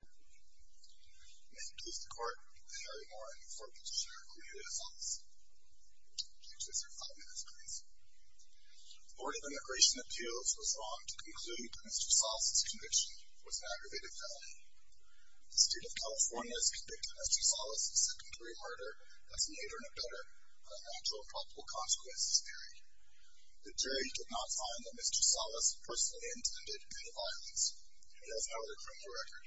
May it please the Court that Harry Moran, 4th P.J. Sharer, acquitted of solace. Judge, you have five minutes, please. The Board of Immigration Appeals was wrong to conclude that Mr. Sales's conviction was an aggravated felony. The State of California has convicted Mr. Sales of second-degree murder that's neither no better than a natural and probable consequences theory. The jury did not find that Mr. Sales personally intended gun violence. It has no other criminal record.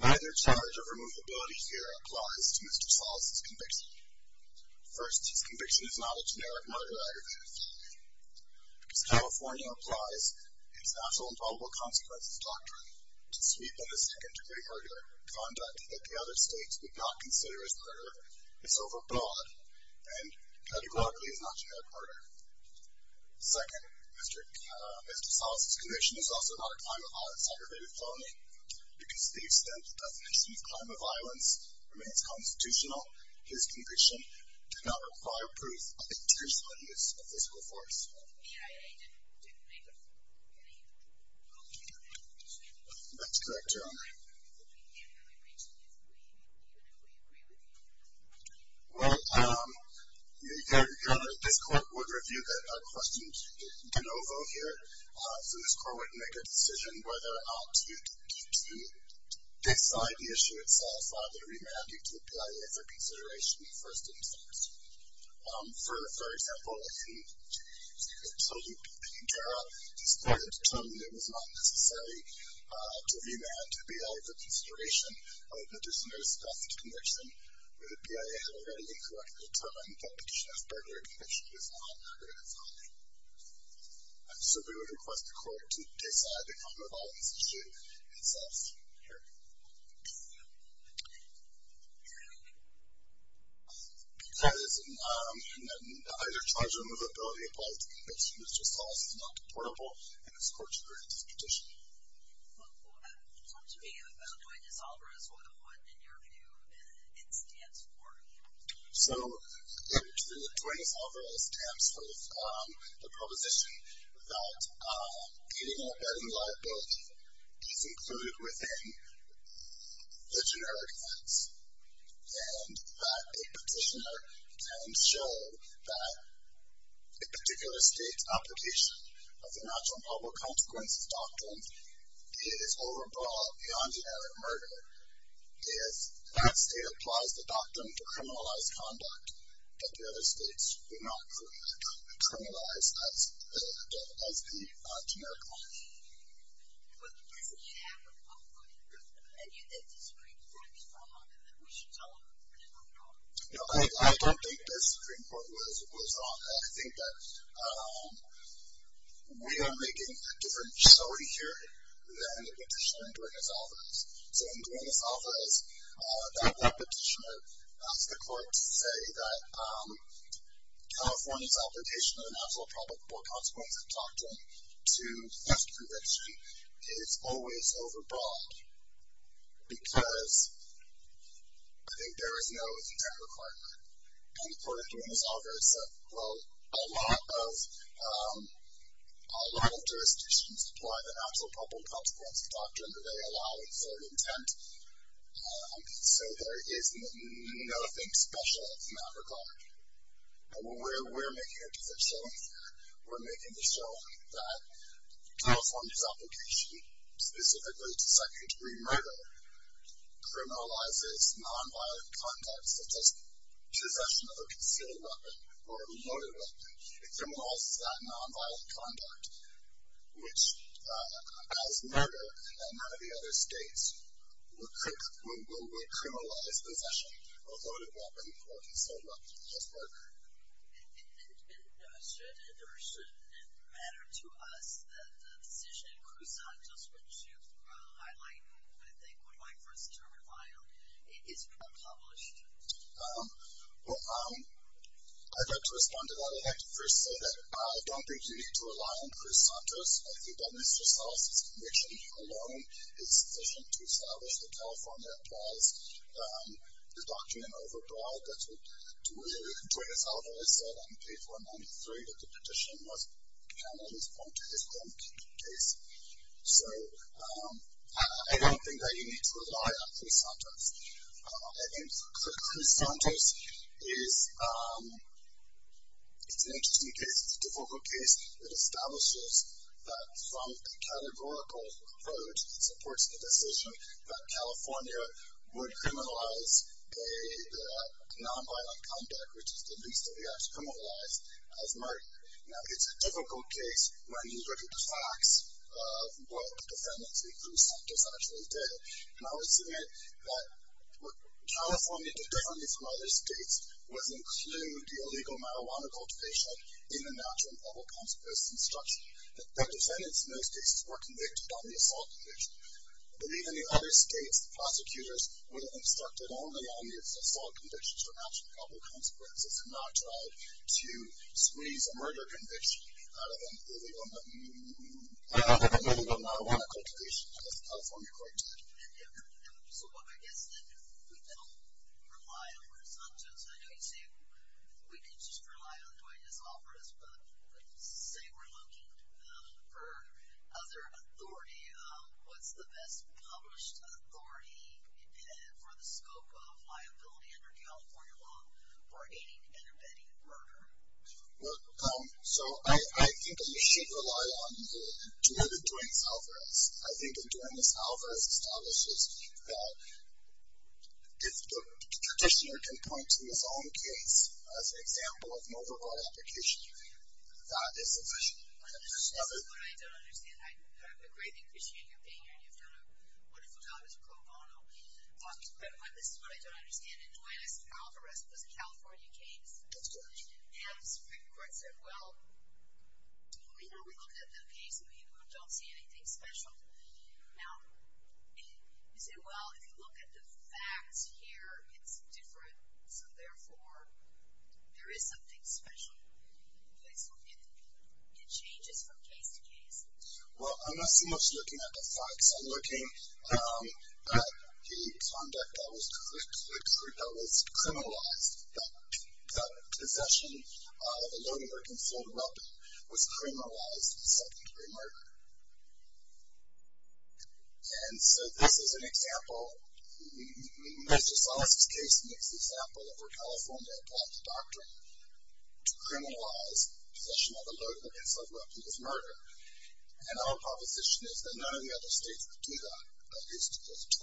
Neither charge of removability theory applies to Mr. Sales's conviction. First, his conviction is not a generic murder aggravated felony. Miss California applies its natural and probable consequences doctrine to sweep in a second-degree murder conduct that the other states would not consider as murder. It's overbought and categorically is not generic murder. Second, Mr. Sales's conviction is also not a crime of aggravated felony because the extent to which he's crime of violence remains constitutional. His conviction did not require proof of the internal use of physical force. That's correct, Your Honor. Your Honor, we can't really reach to this point. Do you agree with me? Well, Your Honor, this court would review the question de novo here. So this court would make a decision whether or not to decide the issue itself rather than remand you to apply it for consideration in the first instance. For example, if he told you to take care of it, the remand would be out of the consideration of the dismissed conviction where the BIA had already correctly determined that the charge of burglary conviction is not an aggravated felony. So we would request the court to decide the crime of violence issue itself here. Because an either-charge-or-removability applies to conviction, which is also not deportable, and this court should review this petition. Well, talk to me about Duenas-Alvarez. What, in your view, it stands for? So, in truth, Duenas-Alvarez stands for the proposition that any embedding liability is included within the generic ones and that a petitioner can show that a particular state's application of the natural and public consequences doctrine is overbroad beyond generic murder if that state applies the doctrine to criminalized conduct that the other states do not criminalize as the generic ones. Well, doesn't he have a public opinion, and you think the Supreme Court is wrong and that we should tell him that we don't know? No, I don't think the Supreme Court was wrong. I think that we are making a different story here than the petitioner in Duenas-Alvarez. So in Duenas-Alvarez, that petitioner asked the court to say that California's application of the natural and public consequences doctrine to theft conviction is always overbroad because I think there is no intent requirement. And the court of Duenas-Alvarez said, well, a lot of jurisdictions apply the natural and public consequences doctrine that they allow with their intent, so there is nothing special in that requirement. And we're making a different story here. We're making the show that California's application specifically to second-degree murder criminalizes nonviolent conduct such as possession of a concealed weapon or a loaded weapon. It criminalizes that nonviolent conduct, which as murder in none of the other states would criminalize possession of a loaded weapon or concealed weapon as murder. And should it or shouldn't it matter to us that the decision in Cruz-Santos, which you've highlighted I think would like for us to rely on, is being published? Well, I'd like to respond to that. I'd like to first say that I don't think you need to rely on Cruz-Santos. I think that Mr. Salas's conviction alone is sufficient to establish that California applies the doctrine overbroad. That's what Dwayne Salazar has said on page 193 that the petition was handled as part of his own case. So I don't think that you need to rely on Cruz-Santos. I think that Cruz-Santos is an interesting case. It's a difficult case. It establishes that from a categorical approach, it supports the decision that California would criminalize nonviolent conduct, which is the least that we have to criminalize, as murder. Now, it's a difficult case when you look at the facts of what the defendants in Cruz-Santos actually did. And I would submit that what California did differently from other states was include the illegal marijuana cultivation in the natural and public health post instruction. The defendants in those cases were convicted on the assault conviction. But even in other states, prosecutors would have instructed only on the assault conviction for natural and public health consequences and not tried to squeeze a murder conviction out of an illegal marijuana cultivation, as California quite did. So I guess that we don't rely on Cruz-Santos. I know you say we can just rely on Dwayne's office, but let's say we're looking for other authority. What's the best published authority for the scope of liability under California law for aiding and abetting murder? Well, so I think that we should rely on Dwayne Alvarez. I think that Dwayne Alvarez establishes that if the practitioner can point to his own case as an example of an overbought application, that is sufficient. This is what I don't understand. I greatly appreciate your being here. You've done a wonderful job as a pro bono. But this is what I don't understand. Dwayne Alvarez was a California case. That's correct. And the Supreme Court said, well, we don't look at the case and we don't see anything special. Now, you say, well, if you look at the facts here, it's different. So therefore, there is something special in place. It changes from case to case. Well, I'm not so much looking at the facts. I'm looking at the conduct that was criminalized, that possession of a loaded or concealed weapon was criminalized as secondary murder. And so this is an example. Mr. Salas's case makes the example that California applied the doctrine to criminalize possession of a loaded or concealed weapon as murder. And our proposition is that none of the other states would do that. At least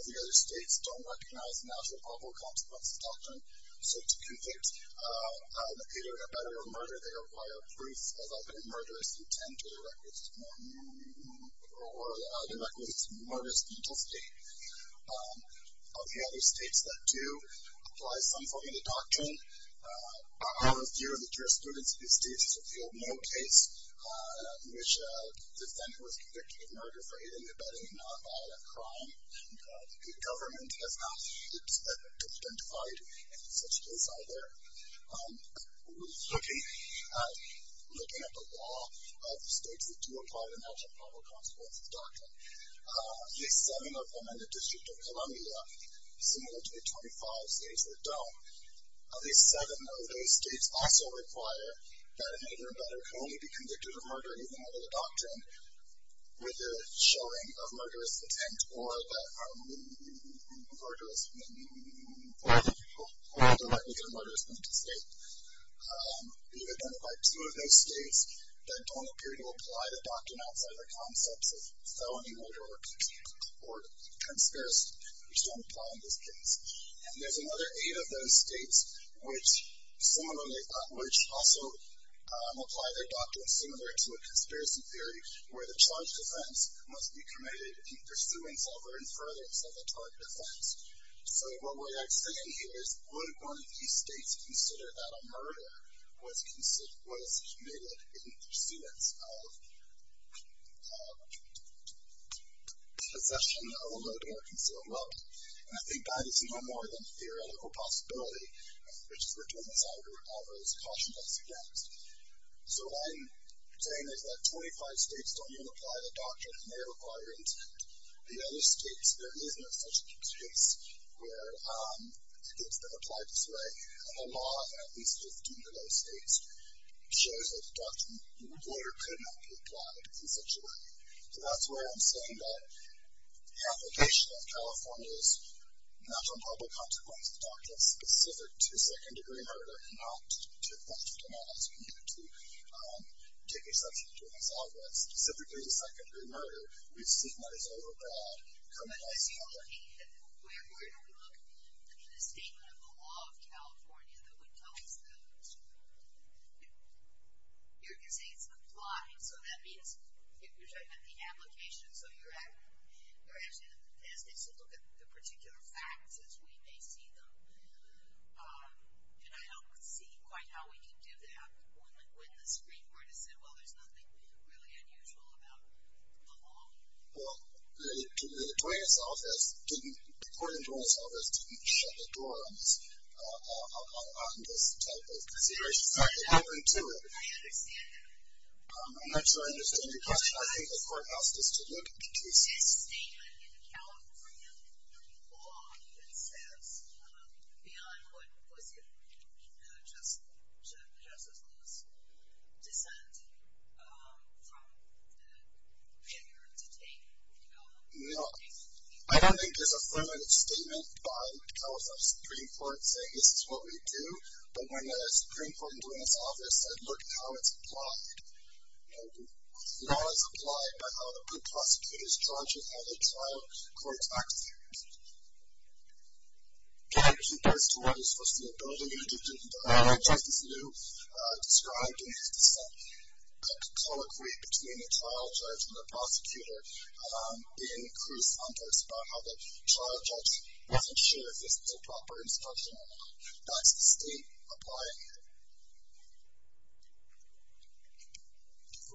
25 of the other states don't recognize an actual probable consequence of the doctrine. So to convict either in a battle or murder, they require proof of either a murderous intent or the recklessness of murderous intestine. Of the other states that do apply some form of the doctrine, about a third of the jurisprudence of these states has revealed no case in which a defendant was convicted of murder for aiding or abetting a nonviolent crime. The government has not identified any such case either. We're looking at the law of the states that do apply an actual probable consequence of the doctrine. At least seven of them in the District of Columbia, similar to the 25 states that don't. At least seven of those states also require that an aiding or abetting can only be convicted of murder using either the doctrine with the showing of murderous intent or the recklessness of murderous intestine. We've identified two of those states that don't appear to apply the doctrine outside the concepts of felony murder or conspiracy, which don't apply in this case. And there's another eight of those states, which also apply their doctrine similar to a conspiracy theory where the charge defense must be committed in pursuance of or in furtherance of the target offense. So what we're saying here is, would one of these states consider that a murder was committed in pursuance of possession of a murder or concealed weapon? And I think that is no more than a theoretical possibility, which is what Thomas Alvarez cautioned us against. So what I'm saying is that 25 states don't even apply the doctrine, and they require intent. In other states, there isn't such a case where it's been applied this way. And the law in at least 15 of those states shows that the doctrine or the order could not be applied in such a way. So that's where I'm saying that the application of California's natural and public consequences doctrine specific to second-degree murder and not to theft and violence committed to, particularly subject to Thomas Alvarez, specifically to second-degree murder, we've seen that it's overbroad, criminalized, and unlawful. Where do we look in the statement of the law of California that would tell us that? You're going to say it's applied, so that means you're talking about the application, so you're actually in a test case to look at the particular facts as we may see them. And I don't see quite how we can do that when the Supreme Court has said, well, there's nothing really unusual about the law. Well, the court attorney's office didn't shut the door on this type of consideration. In fact, they opened to it. I understand that. I'm not sure I understand your question. I think the court asked us to look at the case. This statement in the California Supreme Court law even says beyond what was the official, just as close descent from the figure to take the case. No. I don't think there's a affirmative statement by the California Supreme Court saying this is what we do, but when the Supreme Court went into this office and looked at how it's applied, and not as applied by how the prosecutors charge it, how they trial court actors. Yeah, I think that's to what is supposed to be a building agent, but I think Justice Alito described in his dissent a colloquy between the trial judge and the prosecutor in Cruz's context about how the trial judge wasn't sure if this was a proper instruction or not. That's the state applying it. We're going to reserve a couple of minutes. We'll start with a brief question.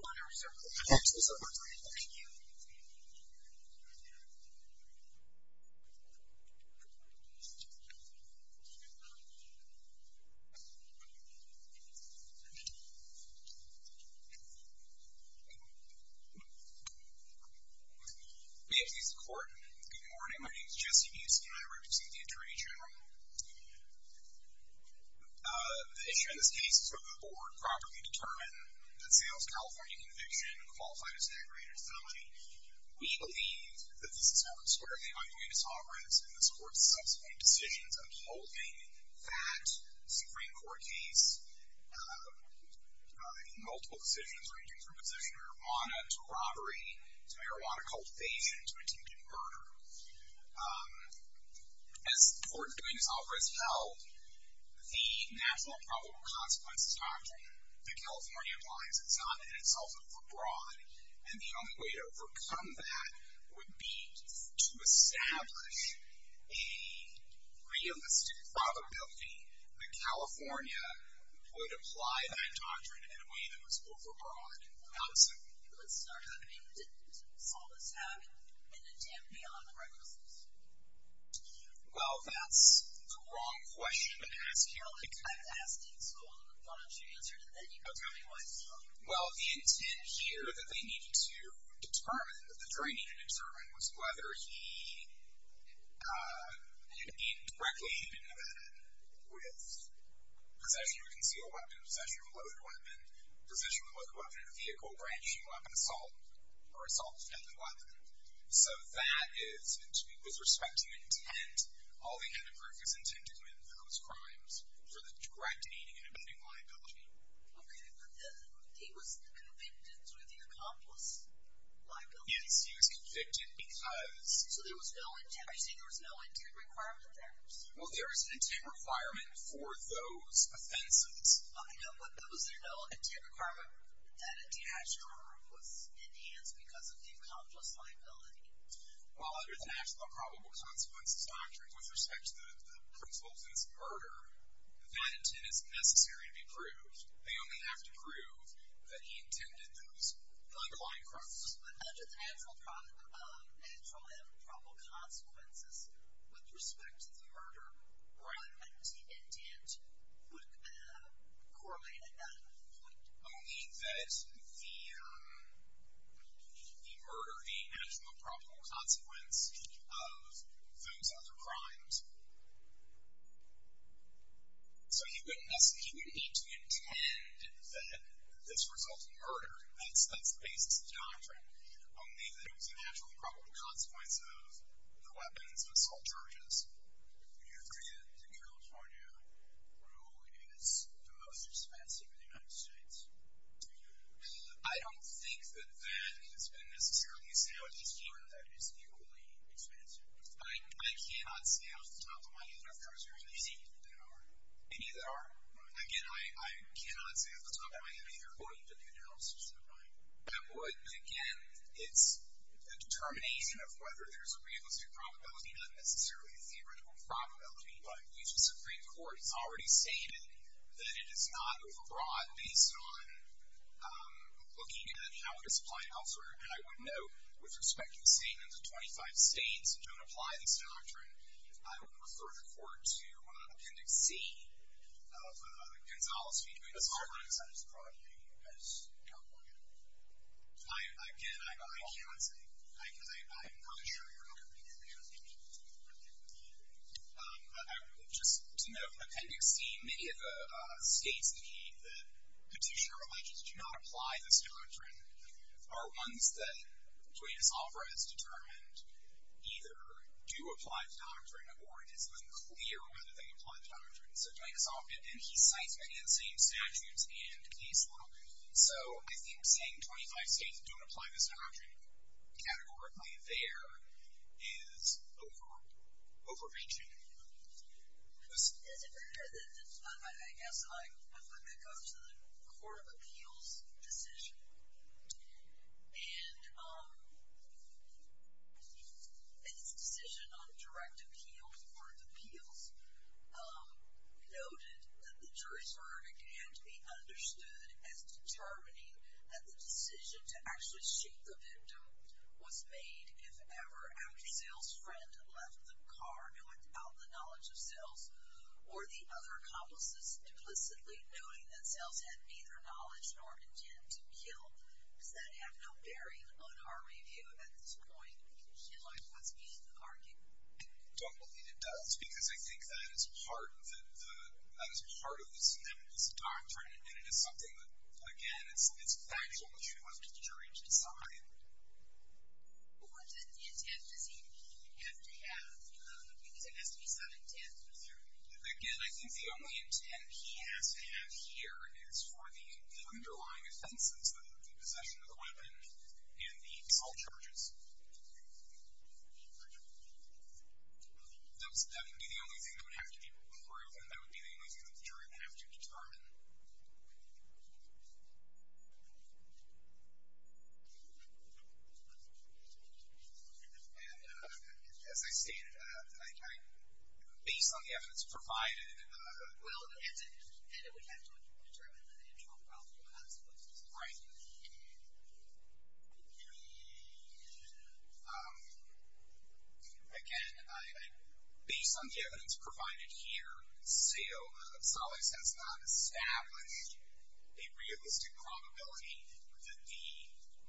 May it please the court. Good morning. My name is Jesse Yusef. I represent the Attorney General. The issue in this case is whether the board properly determined that Seattle's California conviction qualified as an aggravated felony. We believe that this is not the square of the IUA disoberence in this court's subsequent decisions upholding that Supreme Court case, multiple decisions ranging from possession of marijuana to robbery to marijuana cultivation to attempted murder. As the court is doing its offer, it's held the natural and probable consequences doctrine that California applies. It's not in itself overbroad, and the only way to overcome that would be to establish a realistic probability that California would apply that doctrine in a way that was overbroad. Let's start. Well, that's the wrong question to ask here. Well, the intent here that they needed to determine, the training and determine, was whether he had been directly intimated with possession of a concealed weapon, possession of a loaded weapon, possession of a loaded weapon in a vehicle, branching weapon assault, or assault with deadly weapon. So that is, with respect to intent, all they had to prove was intent to commit those crimes for the direct aiding and abetting liability. Okay, but he was convicted through the accomplice liability? Yes, he was convicted because... So there was no intent? Are you saying there was no intent requirement there? Well, there is an intent requirement for those offenses. But was there no intent requirement that an intentional murder was enhanced because of the accomplice liability? Well, under the natural and probable consequences doctrine, with respect to the principles in this murder, that intent is necessary to be proved. They only have to prove that he intended those underlying crimes. But under the natural and probable consequences, with respect to the murder, that intent would correlate enough. Only that the murder, the natural and probable consequence of those other crimes... So he wouldn't need to intend that this resulted in murder. That's the basis of the doctrine. Only that it was a natural and probable consequence of the weapons and assault charges. Do you agree that the California rule is the most expensive in the United States? I don't think that that has been necessarily established here that it's equally expensive. I cannot say off the top of my head if there is a reason that there aren't. Any that aren't? Again, I cannot say off the top of my head if you're voting for the analysis of the crime. I would, but again, it's a determination of whether there's a realistic probability, not necessarily a theoretical probability, but at least the Supreme Court has already stated that it is not overbroad based on looking at how it is applied elsewhere. And I would note, with respect to the statements of 25 states that don't apply this doctrine, I would refer the Court to Appendix C of Gonzales v. Guadalupe. That's not as broad a view as California. Again, I cannot say. I'm not sure you're all agreeing with me. I would, just to note, Appendix C, many of the states that petitioner alleges do not apply this doctrine are ones that Duenas-Offra has determined either do apply the doctrine or it is unclear whether they apply the doctrine. So Duenas-Offra did, and he cites many of the same statutes and case law. So I think saying 25 states don't apply this doctrine categorically there is over-overreaching. Is it fair that, I guess, I'm going to go to the Court of Appeals decision. And its decision on direct appeals, Court of Appeals, noted that the jury's verdict can't be understood as determining that the decision to actually shoot the victim was made, if ever, after sales friend left the car without the knowledge of sales or the other accomplices duplicitly knowing that sales had neither knowledge nor intent to kill. Does that have no bearing on our review at this point in light of what's being argued? I don't believe it does because I think that is part of this doctrine and it is something that, again, it's factual issue up to the jury to decide. Well, what intent does he have to have? Because there has to be some intent. Again, I think the only intent he has to have here is for the underlying offenses, the possession of the weapon and the assault charges. That would be the only thing that would have to be proven. That would be the only thing that the jury would have to determine. And as I stated, based on the evidence provided... Well, the intent, the intent would have to have been to determine the internal problem of the consequences. Right. Um, again, based on the evidence provided here, Sales has not established a realistic probability that the,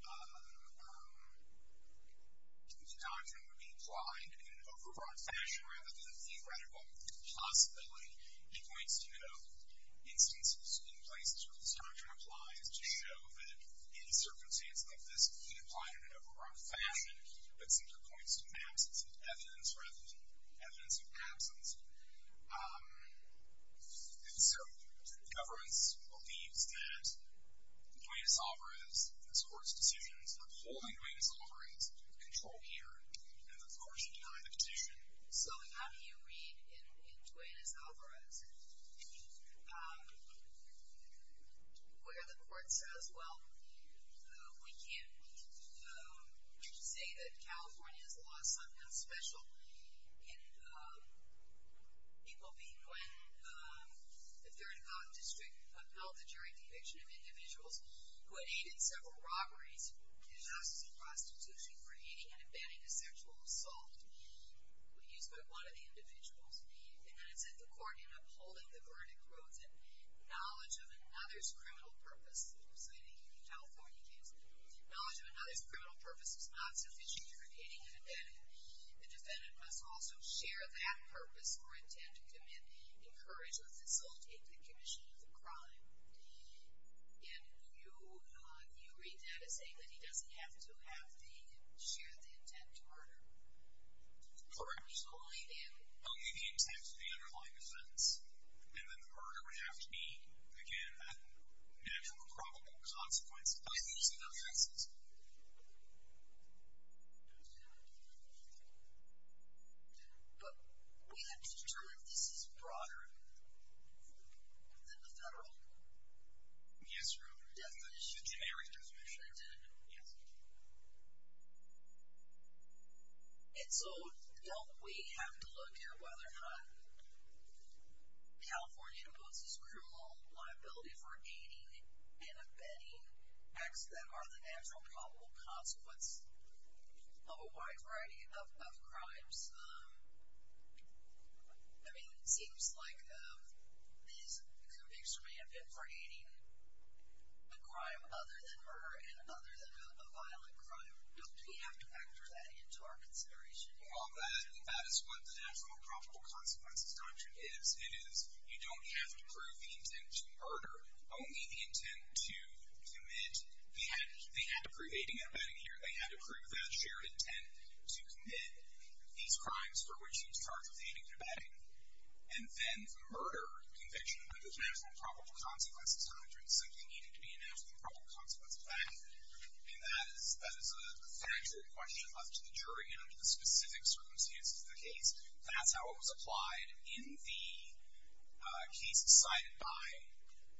um, the doctrine would be applied in an overbroad fashion rather than a theoretical possibility. He points to instances in places where this doctrine applies to show that in a circumstance like this, he applied it in an overbroad fashion, but simply points to absence of evidence rather than evidence of absence. Um, and so, governments believes that Duenas-Alvarez, this court's decisions, were wholly Duenas-Alvarez, the control here, and the coercion behind the petition. So how do you read in Duenas-Alvarez, um, where the court says, well, we can't, um, say that California has lost something special in, um, people being, when, um, the third district upheld the jury conviction of individuals who had aided in several robberies, in justice and prostitution, when used by one of the individuals. And then it said the court, in upholding the verdict, wrote that knowledge of another's criminal purpose, citing a California case, knowledge of another's criminal purpose is not sufficient for creating a defendant. The defendant must also share that purpose or intend to commit, encourage, or facilitate the commission of the crime. And you, uh, you read that as saying that he doesn't have to have the, share the intent to murder. Correct. Only the intent of the underlying offense. And then the murder would have to be, again, that natural or probable consequence of those interferences. But we have to determine if this is broader than the federal definition. Yes, Your Honor. The generic definition. Yes. And so don't we have to look at whether or not California imposes criminal liability for aiding and abetting acts that are the natural probable consequence of a wide variety of crimes? I mean, it seems like Ms. Convicts remain a bit for aiding a crime other than murder and other than a violent crime. Don't we have to factor that into our consideration? Well, that is what the natural and probable consequences doctrine is. It is, you don't have to prove the intent to murder. Only the intent to commit. They had to prove aiding and abetting here. They had to prove that shared intent to commit these crimes for which he was charged with aiding and abetting. And then the murder conviction under the natural and probable consequences doctrine was simply needed to be a natural and probable consequence of that. And that is a factual question left to the jury and under the specific circumstances of the case. That's how it was applied in the case decided by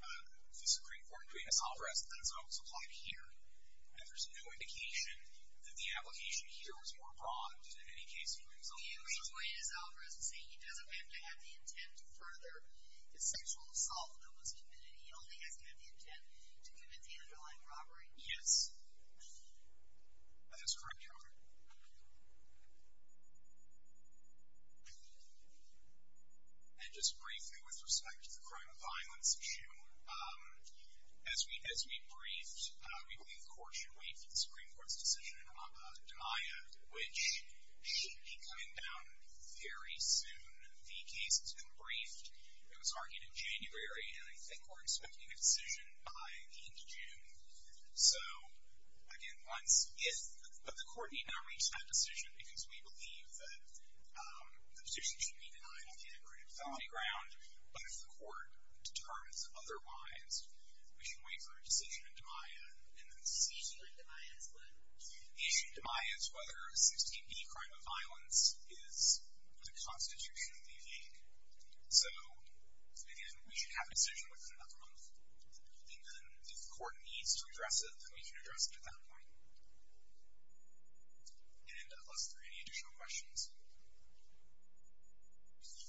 the Supreme Court between Ms. Alvarez and that's how it was applied here. And there's no indication that the application here was more broad than in any case between Ms. Alvarez. He retweeted Ms. Alvarez and said he doesn't have to have the intent to further the sexual assault that was committed. He only has to have the intent to commit the underlying robbery. Yes. That is correct, Your Honor. And just briefly with respect to the crime of violence issue. As we briefed, we believe the court should wait for the Supreme Court's decision in Havana de Maya which should be coming down very soon. The case has been briefed. It was argued in January and I think we're expecting a decision by the end of June. So again, once if, but the court need not reach that decision because we believe that the position should be denied on the integrated felony ground. But if the court determines otherwise, we should wait for a decision in de Maya and then see. The issue in de Maya is what? The issue in de Maya is whether a 16D crime of violence is the constitutionally vague. So again, we should have a decision within another month and then if the court needs to address it, then we can address it at that point. And unless there are any additional questions. Thank you.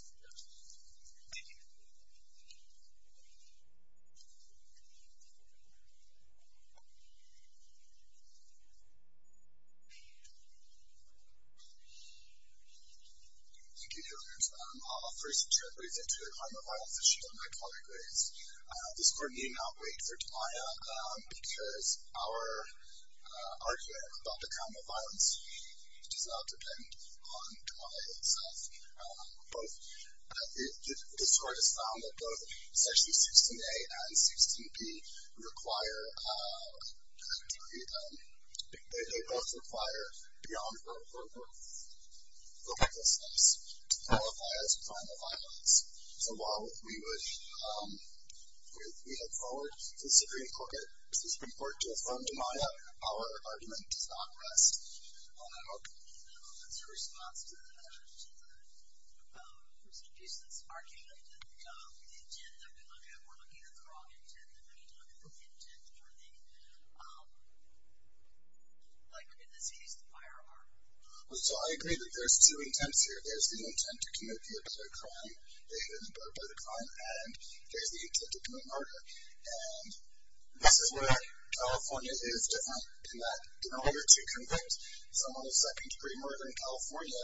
Thank you. Thank you, Your Honors. I'll first brief into a crime of violence issue that my colleague raised. This court need not wait for de Maya because our argument about the crime of violence does not depend on de Maya itself. This court has found that both section 16A and 16B require a degree of, they both require beyond for both criminal steps to qualify as a crime of violence. So while we would, we look forward to the Supreme Court to affirm de Maya, our argument does not rest on that argument. No, that's a response to the person who used this argument that the intent that we look at, we're looking at the wrong intent, and we need to look at the intent for the, like in this case, the firearm. So I agree that there's two intents here. There's the intent to commit the abetted crime, the abetted crime, and there's the intent to commit murder. And this is where California is different in that in order to convict someone of second-degree murder in California,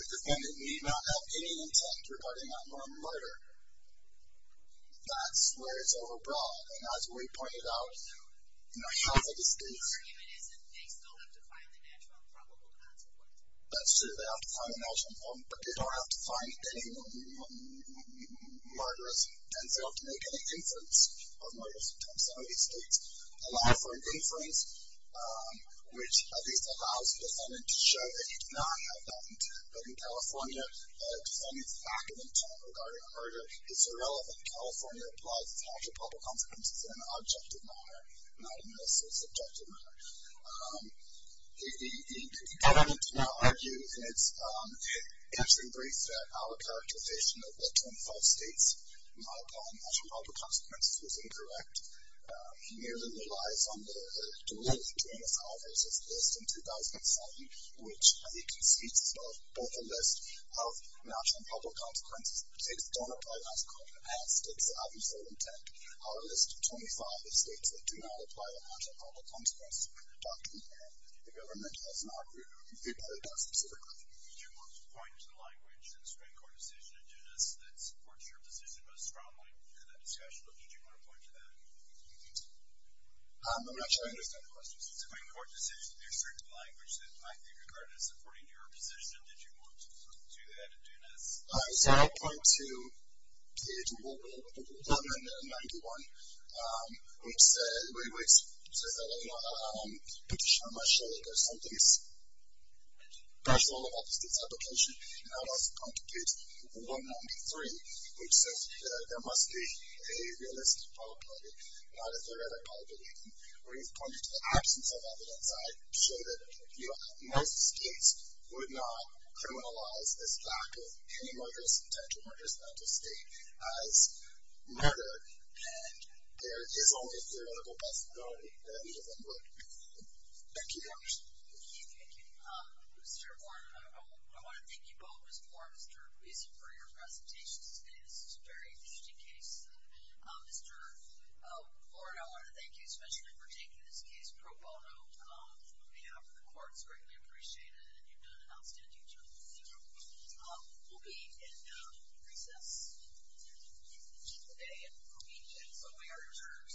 the defendant need not have any intent regarding that murder. That's where it's overbroad. And as we pointed out, you know, half of the states... That's true, they have to find the natural involvement, but they don't have to find any murderous intent. They don't have to make any inference of murderous intent. Some of these states allow for an inference, which at least allows the defendant to show that he did not have that intent. But in California, the defendant's active intent regarding a murder is irrelevant. California applies its natural and public consequences in an objective manner, not in a subjective manner. The defendant did not argue that it's... In brief, our characterization of the 25 states that do not apply natural and public consequences was incorrect. It merely relies on the duality between us, however, as it's listed in 2007, which, as you can see, it's both a list of natural and public consequences. The states that don't apply natural and public consequences have states that have useful intent. Our list of 25 states that do not apply a natural and public consequences doctrine here, the government has not reviewed it that specifically. Would you want to point to the language in the Supreme Court decision in Dunis that supports your position most strongly in that discussion, or did you want to point to that? I'm not sure I understand the question. In the Supreme Court decision, there's certain language that might be regarded as supporting your position. Did you want to add to that in Dunis? So, I'm going to... Well, I'm going to go on. It's... Wait, wait. It says that I have a petition on my shelf or something personal about the state's application. And that also contributes to 193, which says that there must be a realistic probability, not a theoretical probability. Where you've pointed to the absence of evidence, I show that most states would not criminalize this lack of any murderous intent or murderous mental state as murder, and there is only theoretical possibility that either one would. Thank you very much. Thank you. Thank you. Mr. Warren, I want to thank you both, Mr. Warren and Mr. Gleason, for your presentations today. This is a very interesting case. Mr. Warren, I want to thank you especially for taking this case pro bono on behalf of the court. It's greatly appreciated, and you've done an outstanding job. We'll be in recess in just a day, and we'll meet again. So, we are adjourned.